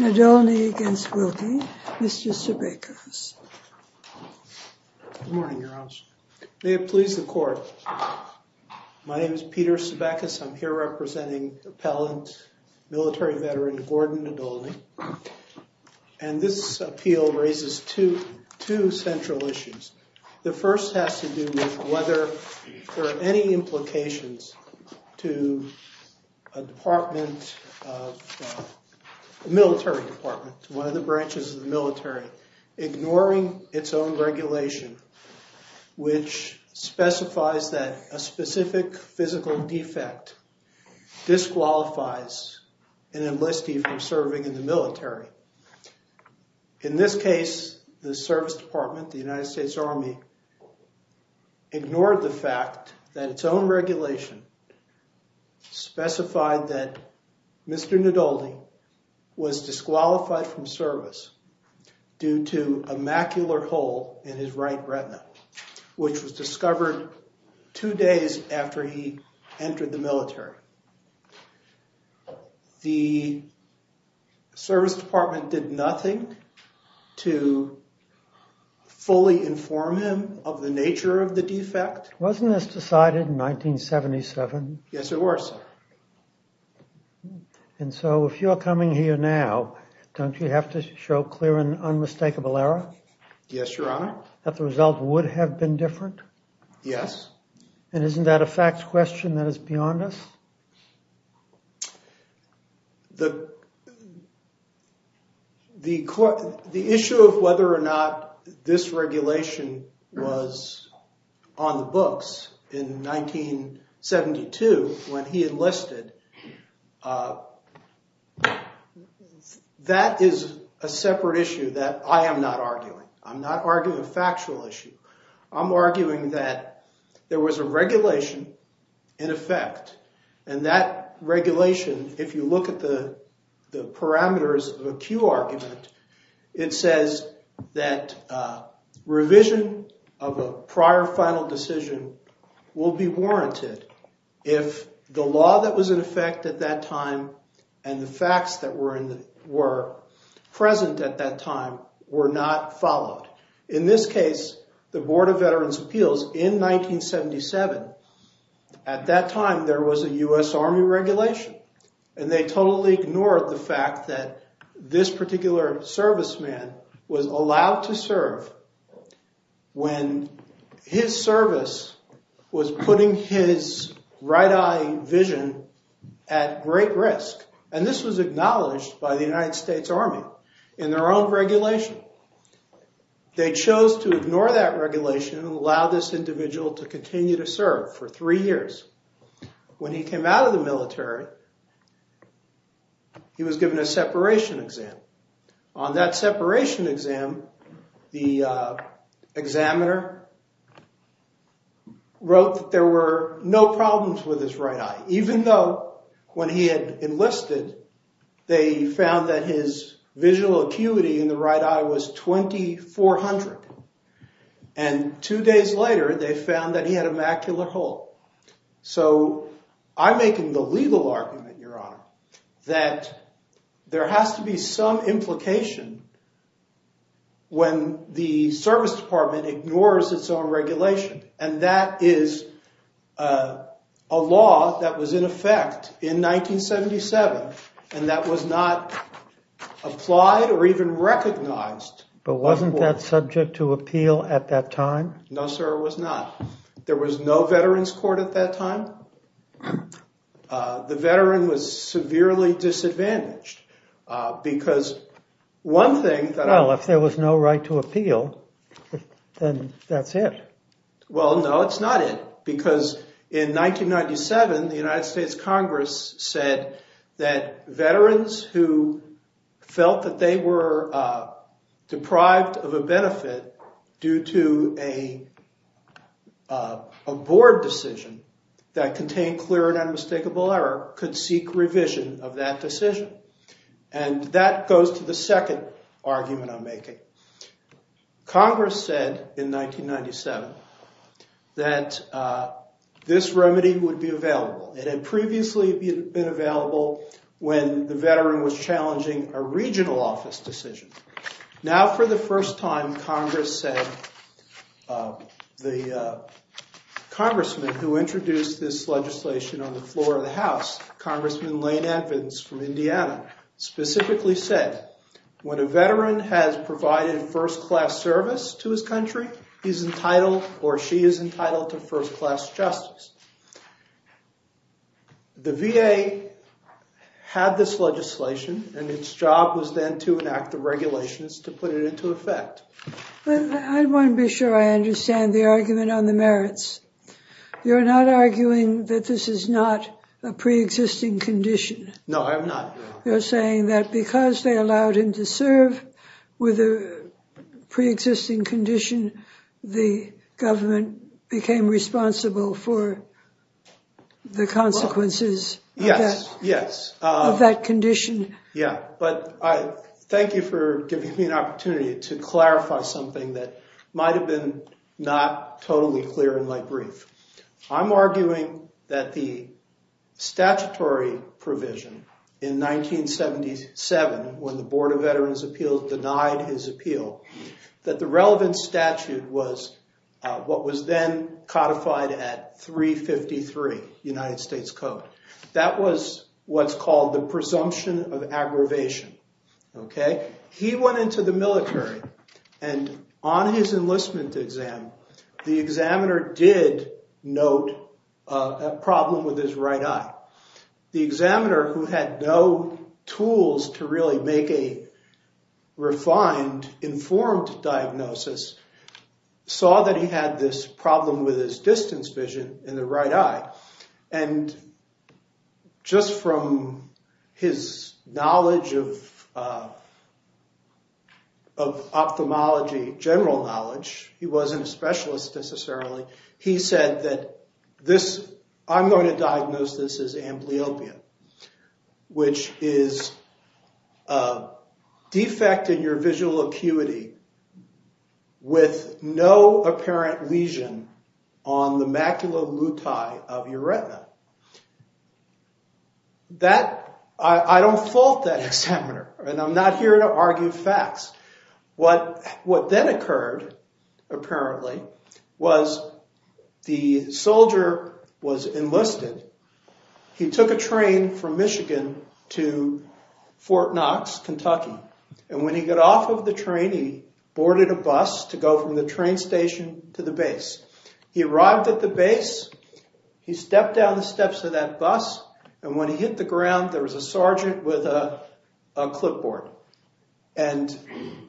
Nadolny against Wilkie. Mr. Sebekus. Good morning, Your Honor. May it please the court. My name is Peter Sebekus. I'm here representing appellant military veteran Gordon Nadolny. And this appeal raises two central issues. The first has to do with whether there are any implications to a military department, one of the branches of the military, ignoring its own regulation, which specifies that a specific physical defect disqualifies an enlistee from serving in the military. In this case, the service department, the United States Commission, specified that Mr. Nadolny was disqualified from service due to a macular hole in his right retina, which was discovered two days after he entered the military. The service department did nothing to fully inform him of the nature of the defect. Wasn't this decided in 1977? Yes, it was, sir. And so if you're coming here now, don't you have to show clear and unmistakable error? Yes, Your Honor. That the result would have been different? Yes. And isn't that a facts question that is beyond us? The issue of whether or not this regulation was on the books in 1972 when he enlisted, that is a separate issue that I am not arguing. I'm not arguing a factual issue. I'm arguing that there was a regulation in effect. And that regulation, if you look at the parameters of a Q argument, it says that revision of a prior final decision will be warranted if the law that was in effect at that time and the facts that were present at that time were not followed. In this case, the Board of Veterans' Appeals in 1977, at that time, there was a US Army regulation. And they totally ignored the fact that this particular serviceman was allowed to serve when his service was putting his right eye vision at great risk. And this was acknowledged by the United States Army in their own regulation. They chose to ignore that regulation and allow this individual to continue to serve for three years. When he came out of the military, he was given a separation exam. On that separation exam, the examiner wrote that there were no problems with his right eye, even though when he had enlisted, they found that his visual acuity in the right eye was 2,400. And two days later, they found that he had a macular hole. So I'm making the legal argument, Your Honor, that there has to be some implication when the service department ignores its own regulation. And that is a law that was in effect in 1977 and that was not applied or even recognized. But wasn't that subject to appeal at that time? No, sir, it was not. There was no veterans court at that time. The veteran was severely disadvantaged. Because one thing that I was there was no right to appeal, then that's it. Well, no, it's not it. Because in 1997, the United States Congress said that veterans who felt that they were deprived of a benefit due to a board decision that contained clear and unmistakable error could seek revision of that decision. And that goes to the second argument I'm making. Congress said in 1997 that this remedy would be available. It had previously been available when the veteran was challenging a regional office decision. Now for the first time, the congressman who introduced this legislation on the floor of the House, Congressman Lane Evans from Indiana, specifically said when a veteran has provided first class service to his country, he's entitled or she is entitled to first class justice. The VA had this legislation, and its job was then to enact the regulations to put it into effect. I want to be sure I understand the argument on the merits. You're not arguing that this is not a pre-existing condition. No, I'm not. You're saying that because they allowed him to serve with a pre-existing condition, the government became responsible for the consequences of that condition. Yeah, but thank you for giving me an opportunity to clarify something that might have been not totally clear in my brief. I'm arguing that the statutory provision in 1977, when the Board of Veterans Appeals denied his appeal, that the relevant statute was what was then codified at 353 United States Code. That was what's called the presumption of aggravation. He went into the military, and on his enlistment exam, the examiner did note a problem with his right eye. The examiner, who had no tools to really make a refined, informed diagnosis, saw that he had this problem with his distance vision in the right eye. And just from his knowledge of ophthalmology, general knowledge, he wasn't a specialist necessarily, he said that I'm going to diagnose this as amblyopia, which is a defect in your visual acuity with no apparent lesion on the macula lutei of your retina. I don't fault that examiner, and I'm not here to argue facts. What then occurred, apparently, was the soldier was enlisted. He took a train from Michigan to Fort Knox, Kentucky. And when he got off of the train, he boarded a bus to go from the train station to the base. He arrived at the base, he stepped down the steps of that bus, and when he hit the ground, there was a sergeant with a clipboard. And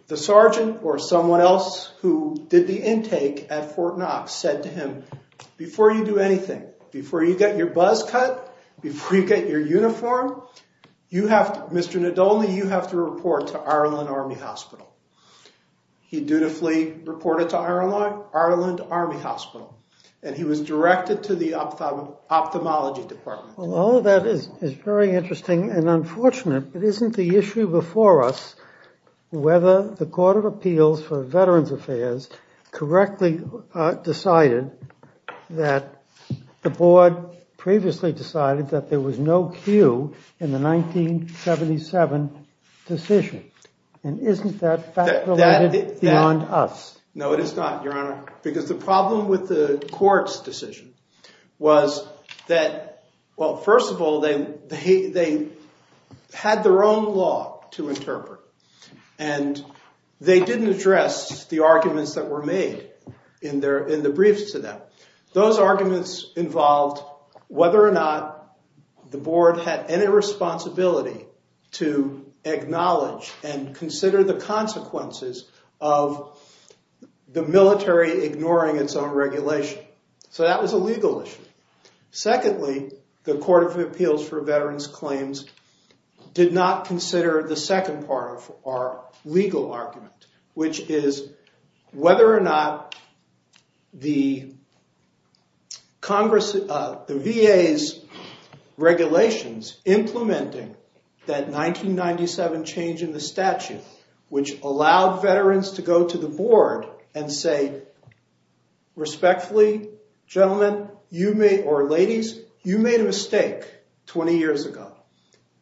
the sergeant, or someone else who did the intake at Fort Knox, said to him, before you do anything, before you get your buzz cut, before you get your uniform, Mr. Nadolny, you have to report to Ireland Army Hospital. He dutifully reported to Ireland Army Hospital, and he was directed to the ophthalmology department. Well, all of that is very interesting and unfortunate, but isn't the issue before us whether the Court of Appeals for Veterans Affairs correctly decided that the board previously decided that there was no queue in the 1977 decision? And isn't that fact-related beyond us? No, it is not, Your Honor, because the problem with the court's decision was that, well, first of all, they had their own law to interpret, and they didn't address the arguments that were made in the briefs to them. Those arguments involved whether or not the board had any responsibility to acknowledge and consider the consequences of the military ignoring its own regulation. So that was a legal issue. Secondly, the Court of Appeals for Veterans Claims did not consider the second part of our legal argument, which is whether or not the VA's regulations implementing that 1997 change in the statute, which allowed veterans to go to the board and say, respectfully, gentlemen, or ladies, you made a mistake 20 years ago,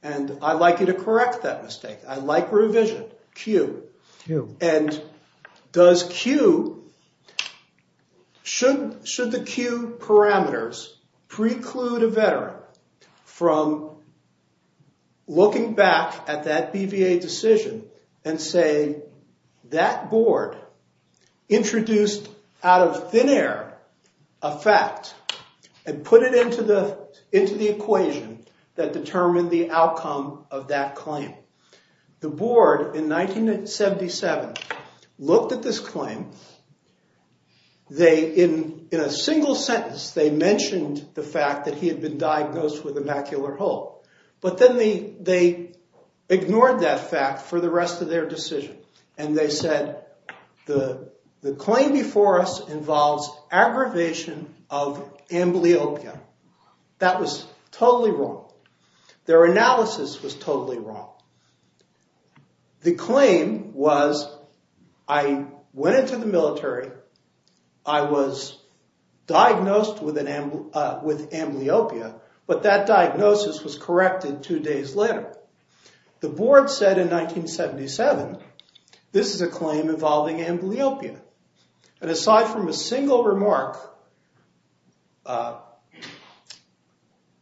and I'd like you to correct that mistake. I like revision, queue. And does queue, should the queue parameters preclude a veteran from looking back at that BVA decision and say, that board introduced out of thin air a fact and put it into the equation that determined the outcome of that claim? The board, in 1977, looked at this claim. In a single sentence, they mentioned the fact that he had been diagnosed with a macular hole. But then they ignored that fact for the rest of their decision. And they said, the claim before us involves aggravation of amblyopia. That was totally wrong. Their analysis was totally wrong. The claim was, I went into the military, I was diagnosed with amblyopia, but that diagnosis was corrected two days later. The board said in 1977, this is a claim involving amblyopia. And aside from a single remark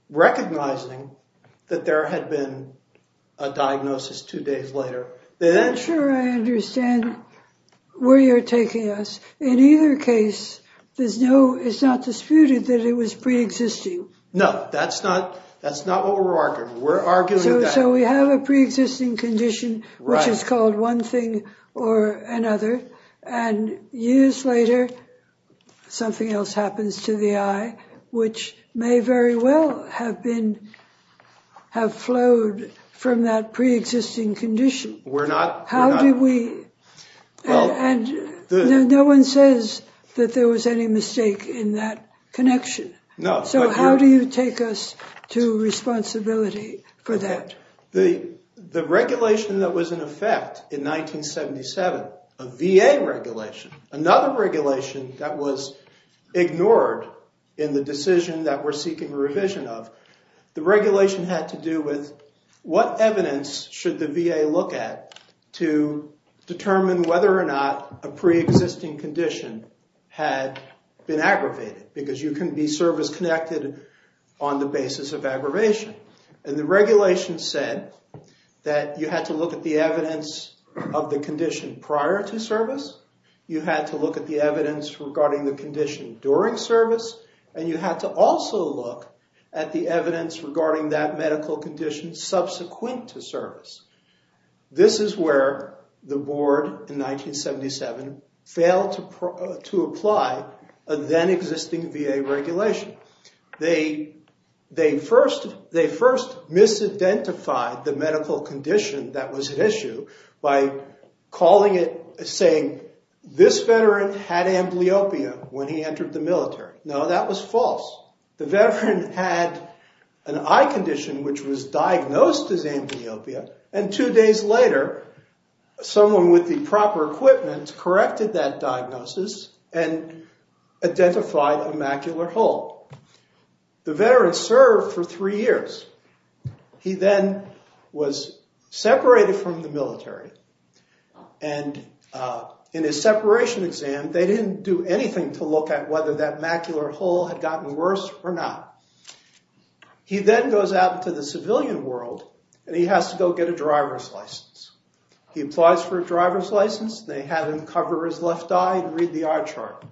recognizing that there had been a diagnosis two days later, they then I'm sure I understand where you're taking us. In either case, it's not disputed that it was pre-existing. No, that's not what we're arguing. We're arguing that. So we have a pre-existing condition, which is called one thing or another. And years later, something else happens to the eye, which may very well have flowed from that pre-existing condition. We're not. How do we? No one says that there was any mistake in that connection. So how do you take us to responsibility for that? The regulation that was in effect in 1977, a VA regulation, another regulation that was ignored in the decision that we're seeking revision of, the regulation had to do with what evidence should the VA look at to determine whether or not a pre-existing condition had been aggravated. Because you can be service-connected on the basis of aggravation. And the regulation said that you had to look at the evidence of the condition prior to service. You had to look at the evidence regarding the condition during service. And you had to also look at the evidence regarding that medical condition subsequent to service. This is where the board, in 1977, failed to apply a then-existing VA regulation. They first misidentified the medical condition that was at issue by calling it, saying, this veteran had amblyopia when he entered the military. No, that was false. The veteran had an eye condition which was diagnosed as amblyopia. And two days later, someone with the proper equipment corrected that diagnosis and identified a macular hole. The veteran served for three years. He then was separated from the military. And in his separation exam, they didn't do anything to look at whether that macular hole had gotten worse or not. He then goes out into the civilian world, and he has to go get a driver's license. He applies for a driver's license. They have him cover his left eye and read the eye chart.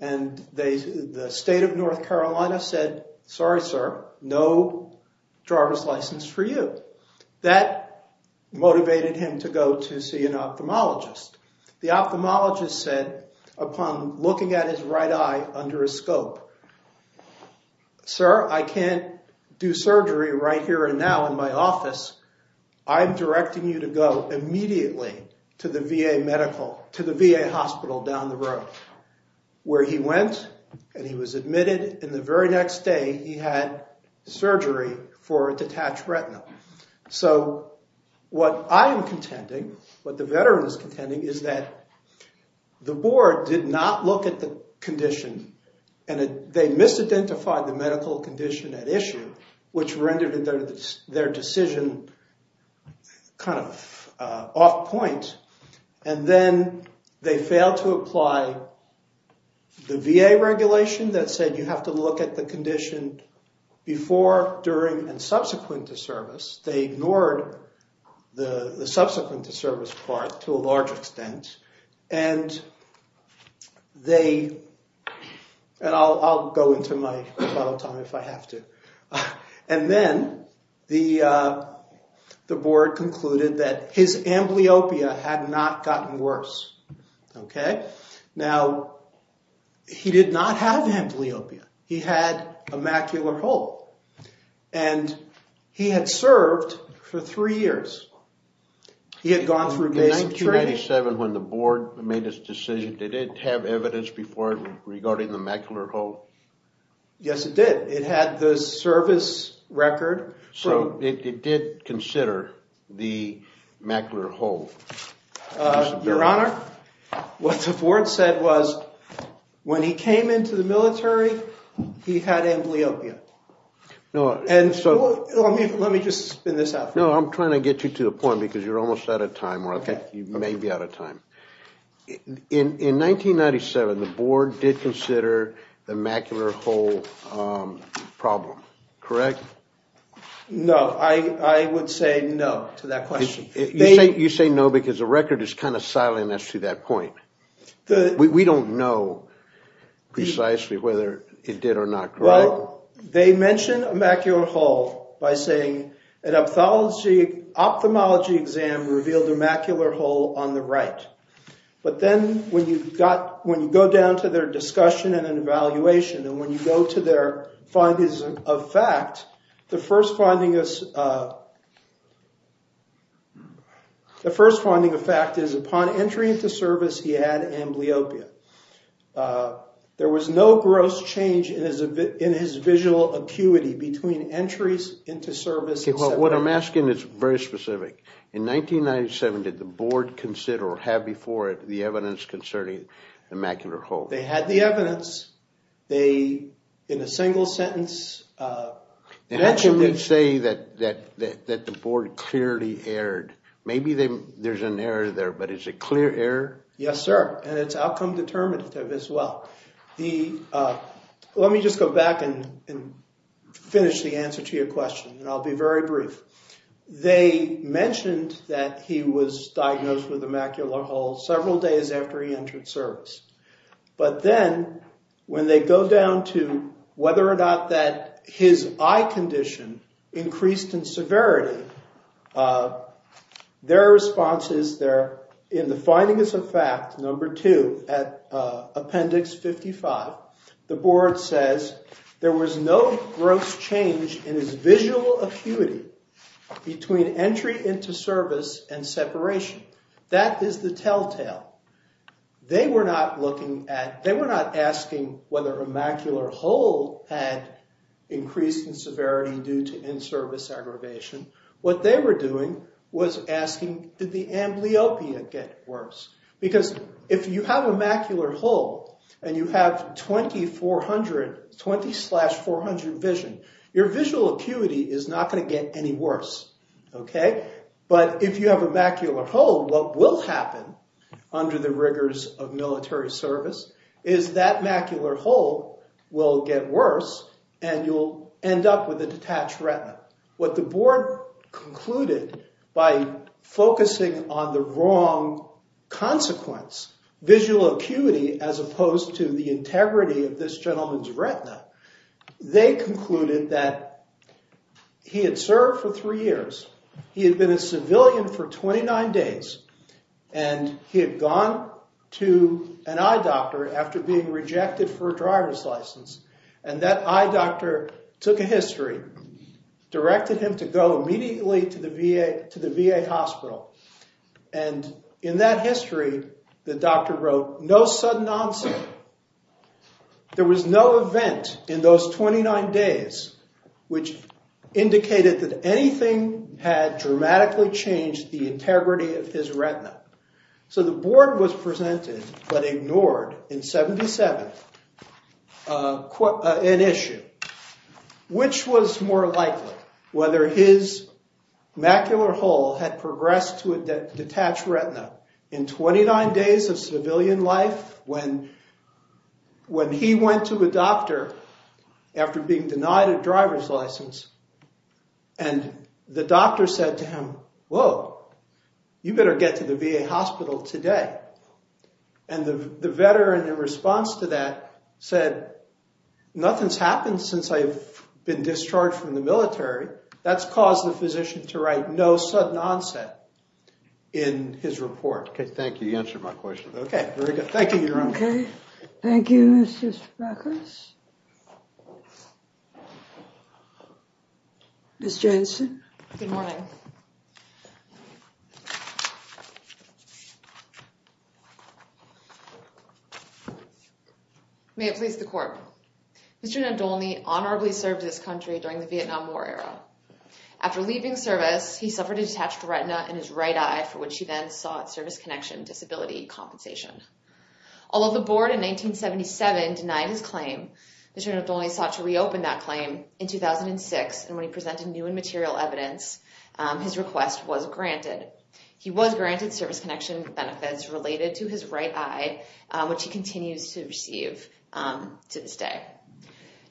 And the state of North Carolina said, sorry, sir, no driver's license for you. That motivated him to go to see an ophthalmologist. The ophthalmologist said, upon looking at his right eye under a scope, sir, I can't do surgery right here and now in my office. I'm directing you to go immediately to the VA hospital down the road, where he went and he was admitted. And the very next day, he had surgery for a detached retina. So what I am contending, what the veteran is contending, is that the board did not look at the condition. And they misidentified the medical condition at issue, which rendered their decision kind of off point. And then they failed to apply the VA regulation that said you have to look at the condition before, during, and subsequent to service. They ignored the subsequent to service part to a large extent. And they, and I'll go into my final time if I have to. And then the board concluded that his amblyopia had not gotten worse. Now, he did not have amblyopia. He had a macular hole. And he had served for three years. He had gone through basic training. In 1997, when the board made its decision, did it have evidence before regarding the macular hole? Yes, it did. It had the service record. So it did consider the macular hole. Your Honor, what the board said was, when he came into the military, he had amblyopia. And so let me just spin this out for you. No, I'm trying to get you to a point because you're almost out of time, or I think you may be out of time. In 1997, the board did consider the macular hole problem, correct? No, I would say no to that question. You say no because the record is kind of silent as to that point. We don't know precisely whether it did or not, right? They mention a macular hole by saying, an ophthalmology exam revealed a macular hole on the right. But then when you go down to their discussion and an evaluation, and when you go to their findings of fact, the first finding of fact is, upon entry into service, he had amblyopia. There was no gross change in his visual acuity between entries into service and separation. OK, well, what I'm asking is very specific. In 1997, did the board consider or have before it the evidence concerning the macular hole? They had the evidence. They, in a single sentence, mentioned it. How can they say that the board clearly erred? Maybe there's an error there, but is it clear error? Yes, sir. And it's outcome determinative as well. Let me just go back and finish the answer to your question, and I'll be very brief. They mentioned that he was diagnosed with a macular hole several days after he entered service. But then when they go down to whether or not that his eye condition increased in severity, their response is there in the findings of fact, number two, at appendix 55. The board says, there was no gross change in his visual acuity between entry into service and separation. That is the telltale. They were not looking at, they were not asking whether a macular hole had increased in severity due to in-service aggravation. What they were doing was asking, did the amblyopia get worse? Because if you have a macular hole, and you have 20 slash 400 vision, your visual acuity is not going to get any worse. But if you have a macular hole, what will happen under the rigors of military service is that macular hole will get worse, and you'll end up with a detached retina. What the board concluded by focusing on the wrong consequence, visual acuity as opposed to the integrity of this gentleman's retina, they concluded that he had served for three years, he had been a civilian for 29 days, and he had gone to an eye doctor after being rejected for a driver's license. And that eye doctor took a history, directed him to go immediately to the VA hospital. And in that history, the doctor wrote, no sudden onset. There was no event in those 29 days which indicated that anything had dramatically changed the integrity of his retina. So the board was presented, but ignored in 77, an issue. Which was more likely? Whether his macular hole had progressed to a detached retina in 29 days of civilian life when he went to a doctor after being denied a driver's license, and the doctor said to him, whoa, you better get to the VA hospital today. And the veteran, in response to that, said, nothing's happened since I've been discharged from the military. That's caused the physician to write, no sudden onset in his report. OK, thank you. You answered my question. OK, very good. Thank you, Your Honor. OK. Thank you, Mr. Speckles. Ms. Jansen. Good morning. May it please the court. Mr. Nadolny honorably served this country during the Vietnam War era. After leaving service, he suffered a detached retina in his right eye, for which he then sought service connection disability compensation. Although the board, in 1977, denied his claim, Mr. Nadolny sought to reopen that claim in 2006, and when he presented new and material evidence, his request was granted. He was granted service connection benefits related to his right eye, which he continues to receive to this day.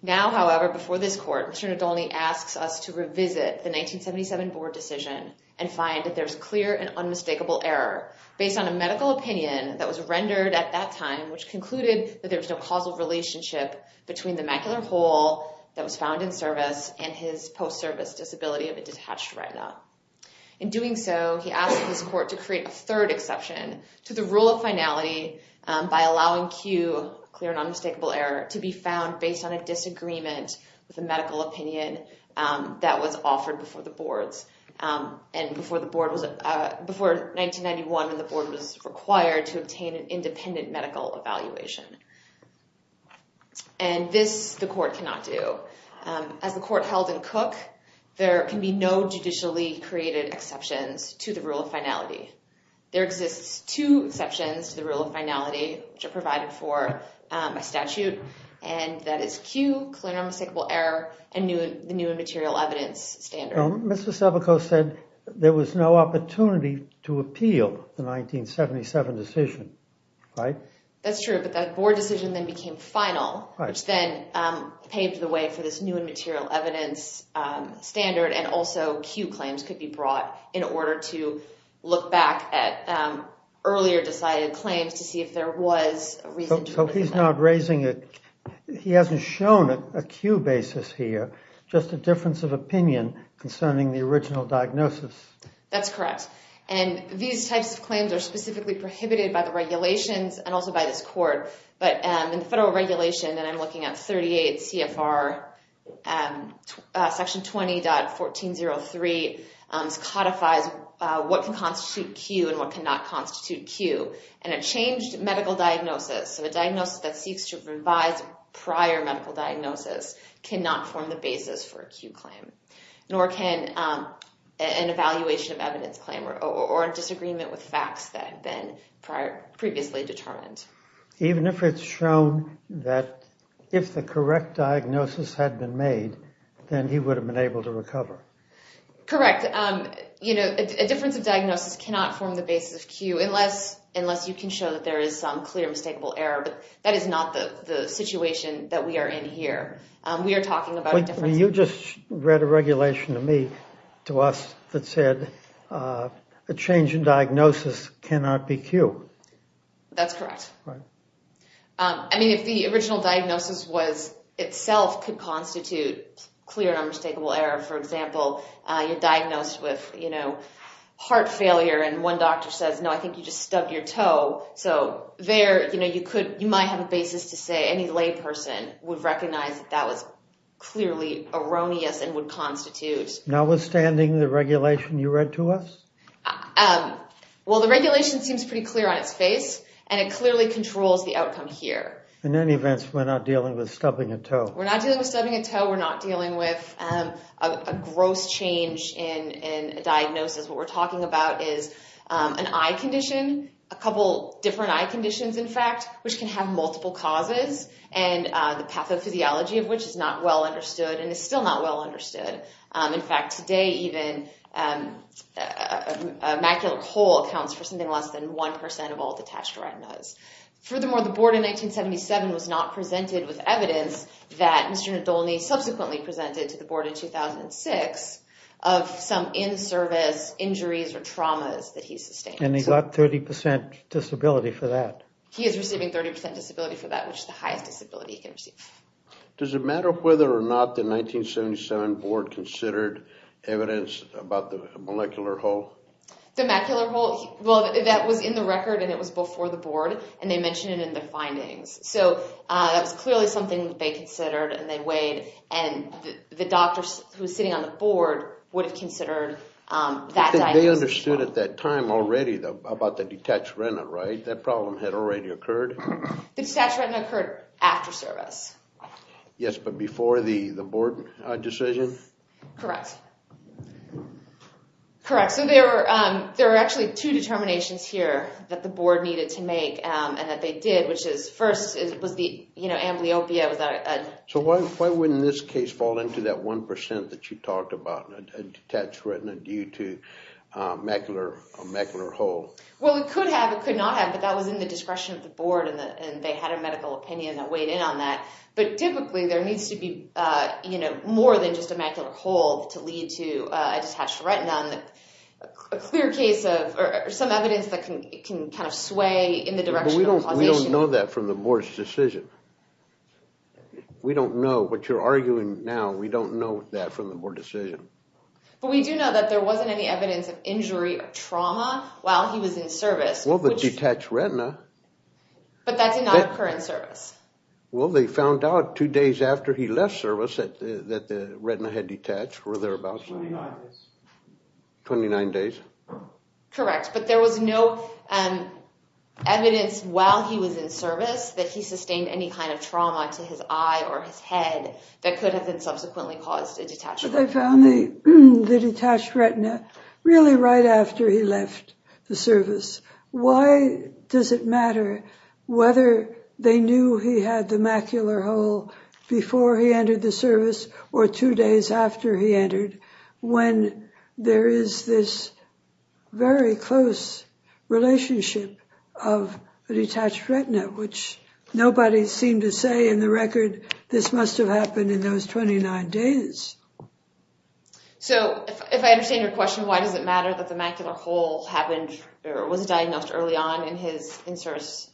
Now, however, before this court, Mr. Nadolny asks us to revisit the 1977 board decision and find that there's clear and unmistakable error, based on a medical opinion that was rendered at that time, which concluded that there was no causal relationship between the macular hole that was found in service and his post-service disability of a detached retina. In doing so, he asked this court to create a third exception to the rule of finality by allowing Q, clear and unmistakable error, to be found based on a disagreement with a medical opinion that was offered before the boards, and before 1991, when the board was required to obtain an independent medical evaluation. And this, the court cannot do. As the court held in Cook, there can be no judicially created exceptions to the rule of finality. There exists two exceptions to the rule of finality, which are provided for by statute, and that is Q, clear and unmistakable error, and the new and material evidence standard. Mr. Savico said there was no opportunity to appeal the 1977 decision, right? That's true. But that board decision then became final, which then paved the way for this new and material evidence standard. And also, Q claims could be brought in order to look back at earlier decided claims to see if there was a reason to do that. So he's not raising a, he hasn't shown a Q basis here, just a difference of opinion concerning the original diagnosis. That's correct. And these types of claims are specifically prohibited by the regulations, and also by this court. But in the federal regulation, and I'm looking at 38 CFR, section 20.1403 codifies what can constitute Q and what cannot constitute Q. And a changed medical diagnosis, so a diagnosis that seeks to revise prior medical diagnosis, cannot form the basis for a Q claim, nor can an evaluation of evidence claim or a disagreement with facts that had been previously determined. Even if it's shown that if the correct diagnosis had been made, then he would have been able to recover. Correct. You know, a difference of diagnosis cannot form the basis of Q, unless you can show that there is some clear, mistakable error. That is not the situation that we are in here. We are talking about a difference. You just read a regulation to me, to us, that said a change in diagnosis cannot be Q. That's correct. I mean, if the original diagnosis was itself could constitute clear and unmistakable error, for example, you're diagnosed with heart failure, and one doctor says, no, I think you just stubbed your toe. So there, you might have a basis to say any lay person would recognize that that was clearly erroneous and would constitute. Notwithstanding the regulation you read to us? Well, the regulation seems pretty clear on its face, and it clearly controls the outcome here. In any event, we're not dealing with stubbing a toe. We're not dealing with stubbing a toe. We're not dealing with a gross change in diagnosis. What we're talking about is an eye condition, a couple different eye conditions, in fact, which can have multiple causes, and the pathophysiology of which is not well understood and is still not well understood. In fact, today, even a macular hole accounts for something less than 1% of all detached retinas. Furthermore, the board in 1977 was not presented with evidence that Mr. Nadolny subsequently presented to the board in 2006 of some in-service injuries or traumas that he sustained. And he got 30% disability for that. He is receiving 30% disability for that, which is the highest disability he can receive. Does it matter whether or not the 1977 board considered evidence about the molecular hole? The macular hole, well, that was in the record, and it was before the board. And they mentioned it in the findings. So that was clearly something they considered, and they weighed. And the doctors who were sitting on the board would have considered that diagnosis as well. They understood at that time already about the detached retina, right? That problem had already occurred? The detached retina occurred after service. Yes, but before the board decision? Correct. Correct, so there are actually two determinations here that the board needed to make and that they did, which is first, it was the amblyopia. So why wouldn't this case fall into that 1% that you talked about, a detached retina due to a macular hole? Well, it could have. It could not have, but that was in the discretion of the board, and they had a medical opinion that weighed in on that. But typically, there needs to be more than just a macular hole to lead to a detached retina, a clear case of some evidence that can kind of sway in the direction of causation. But we don't know that from the board's decision. We don't know what you're arguing now. We don't know that from the board decision. But we do know that there wasn't any evidence of injury or trauma while he was in service. Well, the detached retina. But that did not occur in service. Well, they found out two days after he left service that the retina had detached, or thereabouts. 29 days. 29 days. Correct, but there was no evidence while he was in service that he sustained any kind of trauma to his eye or his head that could have been subsequently caused a detached retina. But they found the detached retina really right after he left the service. Why does it matter whether they knew he had the macular hole before he entered the service or two days after he entered when there is this very close relationship of a detached retina, which nobody seemed to say in the record, this must have happened in those 29 days? So if I understand your question, why does it matter that the macular hole was diagnosed early on in his in-service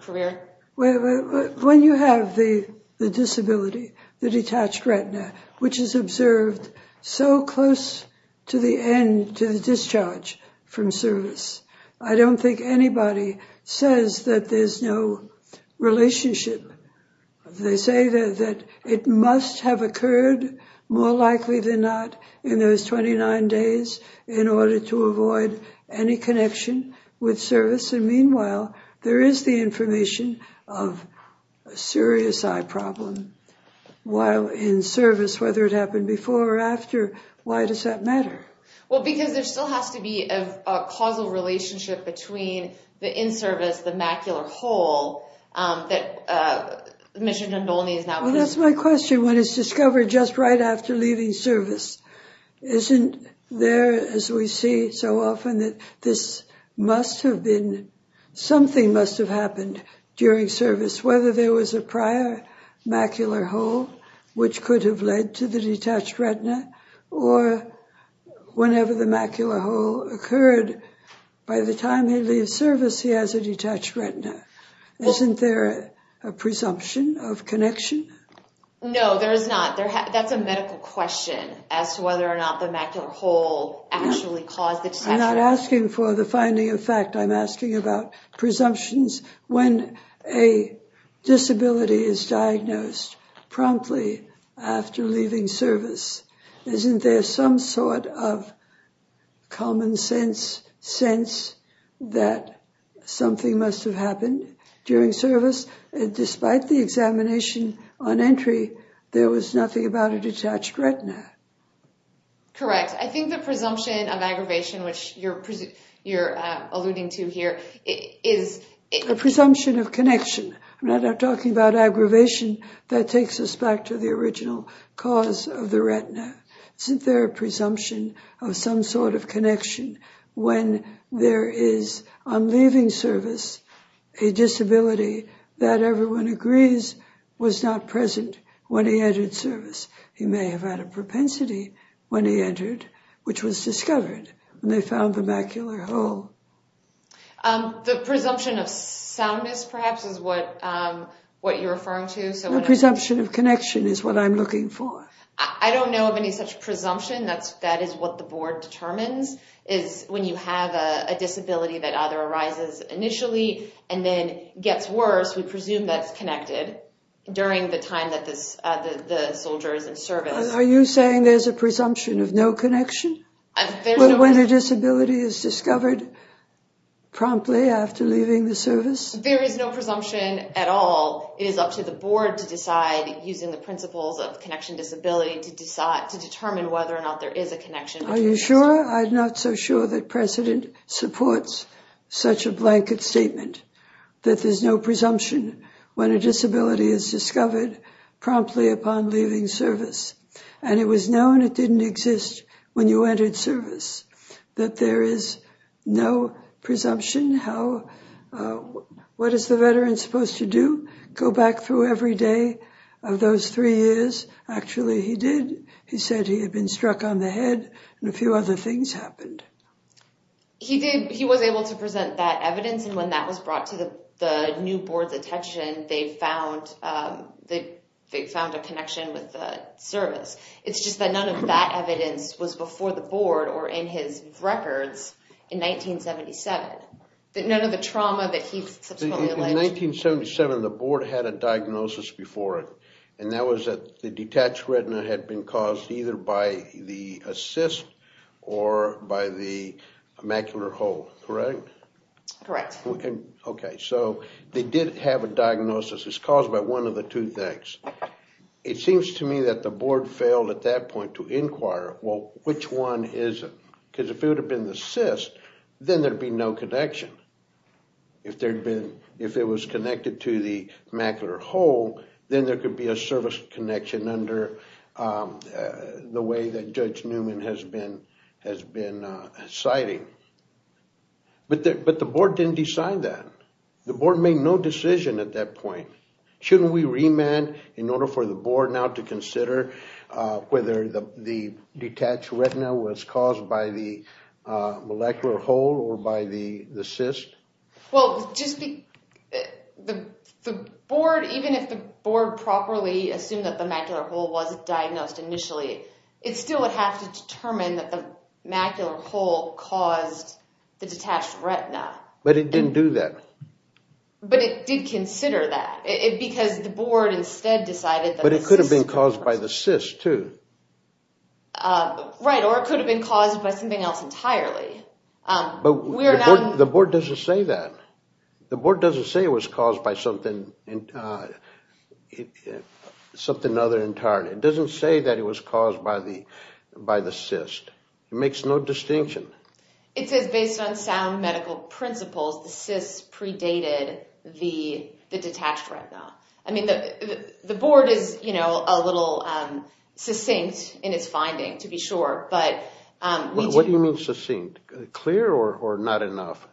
career? When you have the disability, the detached retina, which is observed so close to the end, to the discharge from service, I don't think anybody says that there's no relationship. They say that it must have occurred, more likely than not, in those 29 days in order to avoid any connection with service. And meanwhile, there is the information of a serious eye problem while in service, whether it happened before or after. Why does that matter? Well, because there still has to be a causal relationship between the in-service, the macular hole, that Mr. Ndolni is now aware of. Well, that's my question. When it's discovered just right after leaving service, isn't there, as we see so often, that this must have been, something must have happened during service, whether there was a prior macular hole, which could have led to the detached retina, or whenever the macular hole occurred, by the time he leaves service, he has a detached retina. Isn't there a presumption of connection? No, there is not. That's a medical question as to whether or not the macular hole actually caused the detached retina. I'm not asking for the finding of fact. I'm asking about presumptions. When a disability is diagnosed promptly after leaving service, isn't there some sort of common sense sense that something must have happened during service? Despite the examination on entry, there was nothing about a detached retina. Correct. I think the presumption of aggravation, which you're alluding to here, is a presumption of connection. I'm not talking about aggravation. That takes us back to the original cause of the retina. Isn't there a presumption of some sort of connection when there is, on leaving service, a disability that everyone agrees was not present when he entered service? He may have had a propensity when he entered, which was discovered. They found the macular hole. The presumption of soundness, perhaps, is what you're referring to. The presumption of connection is what I'm looking for. I don't know of any such presumption. That is what the board determines, is when you have a disability that either arises initially and then gets worse. We presume that's connected during the time that the soldier is in service. Are you saying there's a presumption of no connection? When a disability is discovered promptly after leaving the service? There is no presumption at all. It is up to the board to decide, using the principles of connection disability, to determine whether or not there is a connection. Are you sure? I'm not so sure that precedent supports such a blanket statement, that there's no presumption when a disability is discovered promptly upon leaving service. And it was known it didn't exist when you entered service, that there is no presumption. What is the veteran supposed to do? Go back through every day of those three years? Actually, he did. He said he had been struck on the head, and a few other things happened. He did. He was able to present that evidence. And when that was brought to the new board's attention, they found a connection with the service. It's just that none of that evidence was before the board or in his records in 1977. None of the trauma that he subsequently alleged. In 1977, the board had a diagnosis before it. And that was that the detached retina had been caused either by the cyst or by the macular hole. Correct? Correct. OK, so they did have a diagnosis. It's caused by one of the two things. It seems to me that the board failed at that point to inquire, well, which one is it? Because if it would have been the cyst, then there'd be no connection. If it was connected to the macular hole, then there could be a service connection under the way that Judge Newman has been citing. But the board didn't decide that. The board made no decision at that point. Shouldn't we remand in order for the board now to consider whether the detached retina was caused by the molecular hole or by the cyst? Well, just the board, even if the board properly assumed that the macular hole was diagnosed initially, it still would have to determine that the macular hole caused the detached retina. But it didn't do that. But it did consider that. Because the board instead decided that the cyst was caused. But it could have been caused by the cyst, too. Right, or it could have been caused by something else entirely. But the board doesn't say that. The board doesn't say it was caused by something other entirely. It doesn't say that it was caused by the cyst. It makes no distinction. It says, based on sound medical principles, the cyst predated the detached retina. I mean, the board is a little succinct in its finding, to be sure, but we do know that. What do you mean, succinct? Clear or not enough?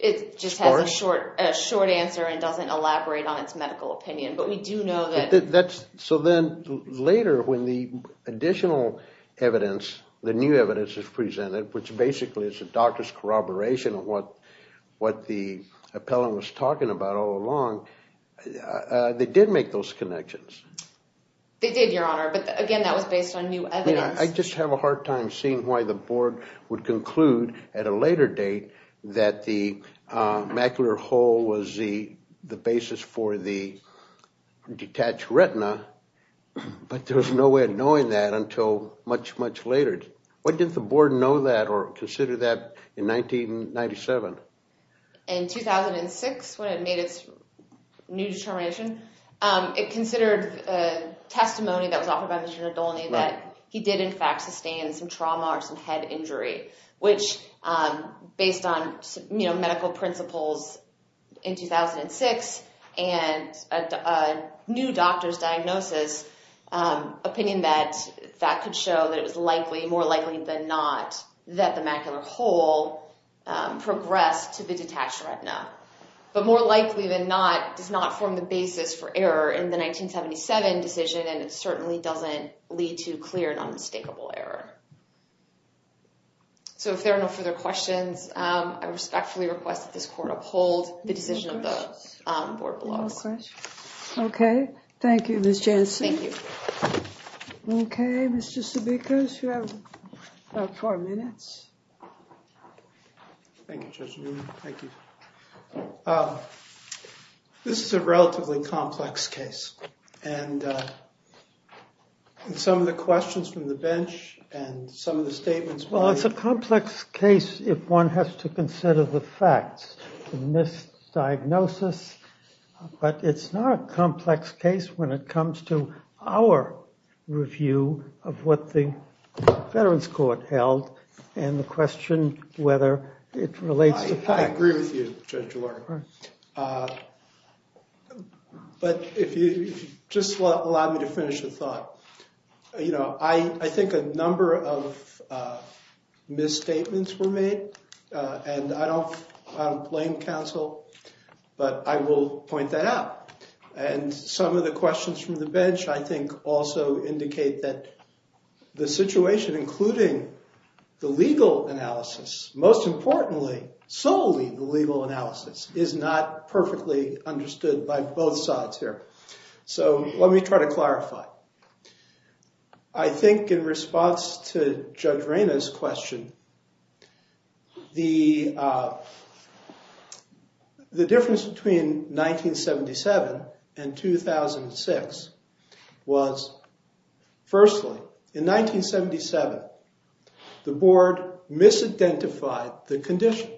It just has a short answer and doesn't elaborate on its medical opinion. But we do know that. So then later, when the additional evidence, the new evidence is presented, which basically is a doctor's corroboration of what the appellant was talking about all along, they did make those connections. They did, Your Honor. But again, that was based on new evidence. Yeah, I just have a hard time seeing why the board would conclude at a later date that the macular hole was the basis for the detached retina. But there was no way of knowing that until much, much later. Why didn't the board know that or consider that in 1997? In 2006, when it made its new determination, it considered testimony that was offered by Mr. Nadolny that he did, in fact, sustain some trauma or some head injury, which based on medical principles in 2006 and a new doctor's diagnosis opinion that that could show that it was likely, more likely than not, that the macular hole progressed to the detached retina. But more likely than not, does not form the basis for error in the 1977 decision. And it certainly doesn't lead to clear and unmistakable error. So if there are no further questions, I respectfully request that this court uphold the decision of the board below. OK. Thank you, Ms. Jansen. Thank you. OK, Mr. Sabikos, you have about four minutes. Thank you, Judge Newman. Thank you. This is a relatively complex case. And some of the questions from the bench and some of the statements were made. Well, it's a complex case if one has to consider the facts. The misdiagnosis. But it's not a complex case when it comes to our review of what the Veterans Court held and the question whether it relates to facts. I agree with you, Judge Lerner. But if you just allow me to finish the thought. I think a number of misstatements were made. And I don't blame counsel. But I will point that out. And some of the questions from the bench, I think, also indicate that the situation, including the legal analysis, most importantly, solely the legal analysis, is not perfectly understood by both sides here. So let me try to clarify. I think in response to Judge Reyna's question, the difference between 1977 and 2006 was, firstly, in 1977, the board misidentified the condition.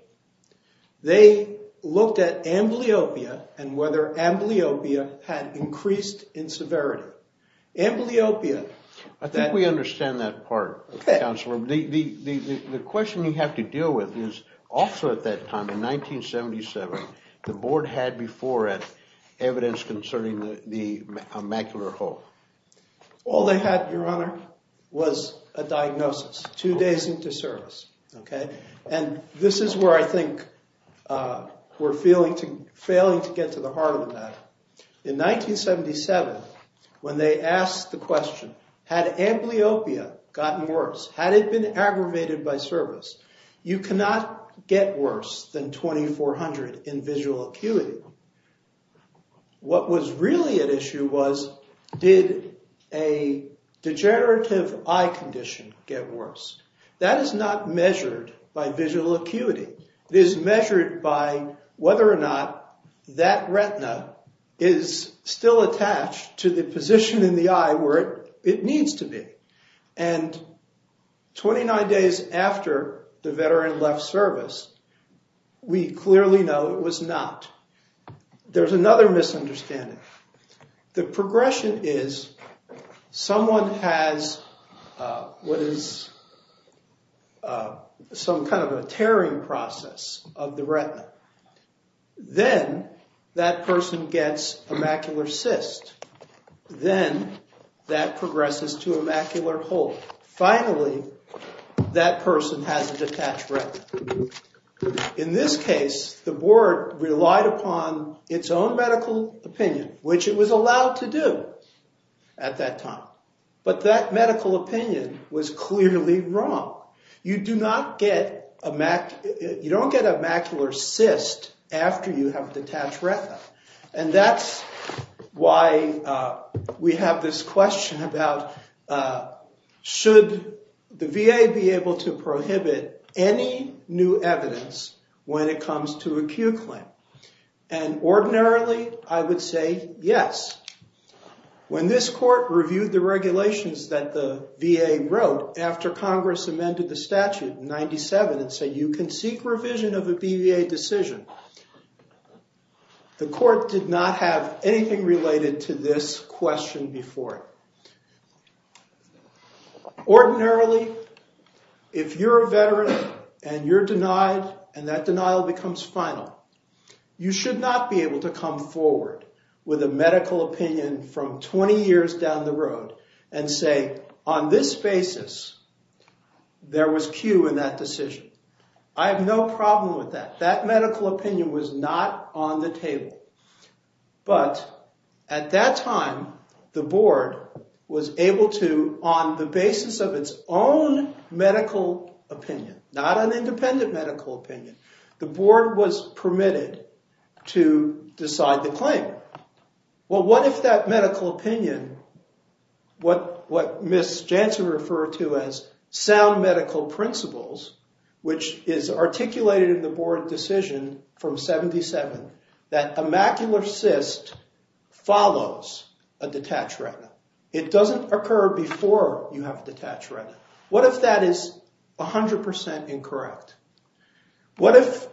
They looked at amblyopia and whether amblyopia had increased in severity. Amblyopia. I think we understand that part, Counselor. The question you have to deal with is, also at that time, in 1977, the board had before it evidence concerning the macular hull. All they had, Your Honor, was a diagnosis two days into service. And this is where I think we're failing to get to the heart of the matter. In 1977, when they asked the question, had amblyopia gotten worse? Had it been aggravated by service? You cannot get worse than 2,400 in visual acuity. What was really at issue was, did a degenerative eye condition get worse? That is not measured by visual acuity. It is measured by whether or not that retina is still attached to the position in the eye where it needs to be. And 29 days after the veteran left service, we clearly know it was not. There's another misunderstanding. The progression is, someone has what is called a retinal process of the retina. Then that person gets a macular cyst. Then that progresses to a macular hull. Finally, that person has a detached retina. In this case, the board relied upon its own medical opinion, which it was allowed to do at that time. But that medical opinion was clearly wrong. You do not get a macular cyst after you have detached retina. And that's why we have this question about, should the VA be able to prohibit any new evidence when it comes to acute claim? And ordinarily, I would say yes. When this court reviewed the regulations that the VA wrote after Congress amended the statute in 97, it said, you can seek revision of a BVA decision. The court did not have anything related to this question before it. Ordinarily, if you're a veteran and you're denied, and that denial becomes final, you should not be able to come forward with a medical opinion from 20 years down the road and say, on this basis, there was Q in that decision. I have no problem with that. That medical opinion was not on the table. But at that time, the board was able to, on the basis of its own medical opinion, not an independent medical opinion, the board was permitted to decide the claim. Well, what if that medical opinion, what Ms. Jansen referred to as sound medical principles, which is articulated in the board decision from 77, that a macular cyst follows a detached retina. It doesn't occur before you have a detached retina. What if that is 100% incorrect? What if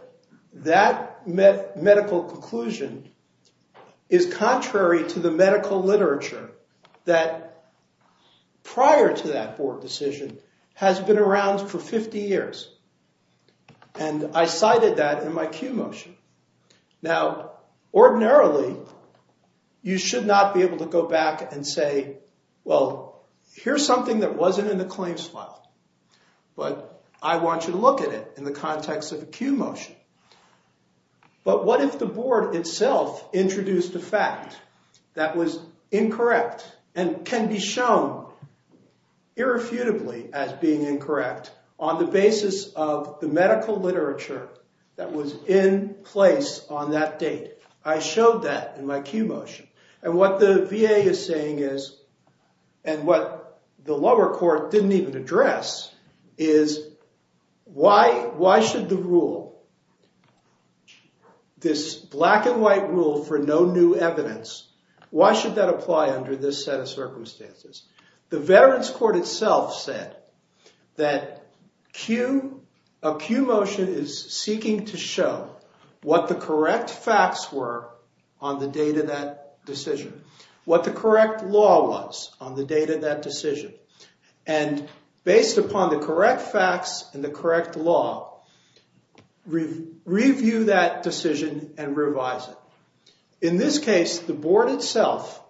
that medical conclusion is contrary to the medical literature that prior to that board decision has been around for 50 years? And I cited that in my Q motion. Now, ordinarily, you should not be able to go back and say, well, here's something that wasn't in the claims file. But I want you to look at it in the context of a Q motion. But what if the board itself introduced a fact that was incorrect and can be shown irrefutably as being incorrect on the basis of the medical literature that was in place on that date? I showed that in my Q motion. And what the VA is saying is, and what the lower court didn't even address, is why should the rule, this black and white rule for no new evidence, why should that apply under this set of circumstances? The Veterans Court itself said that a Q motion is seeking to show what the correct facts were on the date of that decision, what the correct law was on the date of that decision. And based upon the correct facts and the correct law, review that decision and revise it. In this case, the board itself,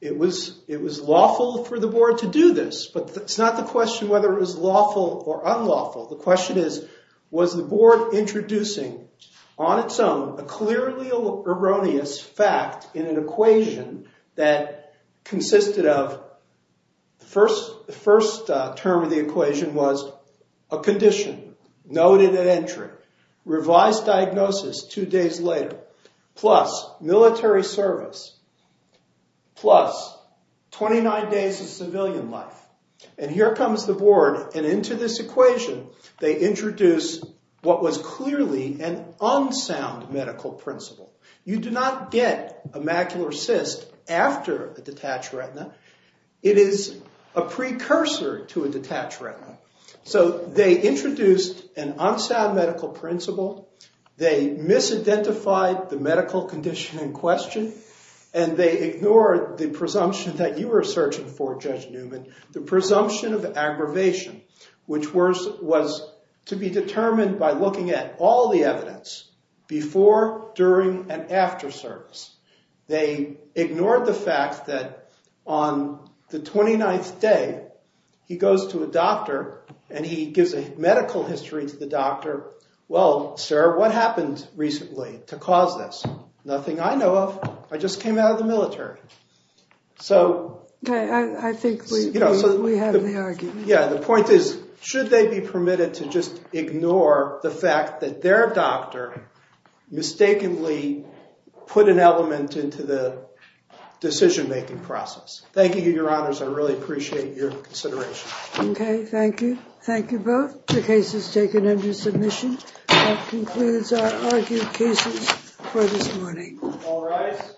it was lawful for the board to do this. But it's not the question whether it was lawful or unlawful. The question is, was the board introducing on its own a clearly erroneous fact in an equation that consisted of the first term of the equation was a condition noted at entry, revised diagnosis two days later, plus military service, plus 29 days of civilian life. And here comes the board. And into this equation, they introduce what was clearly an unsound medical principle. You do not get a macular cyst after a detached retina. It is a precursor to a detached retina. So they introduced an unsound medical principle. They misidentified the medical condition in question. And they ignored the presumption that you were searching for, Judge Newman, the presumption of aggravation, which was to be determined by looking at all the evidence before, during, and after service. They ignored the fact that on the 29th day, he goes to a doctor. And he gives a medical history to the doctor. Well, sir, what happened recently to cause this? Nothing I know of. I just came out of the military. So the point is, should they be permitted to just ignore the fact that their doctor mistakenly put an element into the decision-making process? Thank you, Your Honors. I really appreciate your consideration. OK, thank you. Thank you both. The case is taken under submission. That concludes our argued cases for this morning. All rise.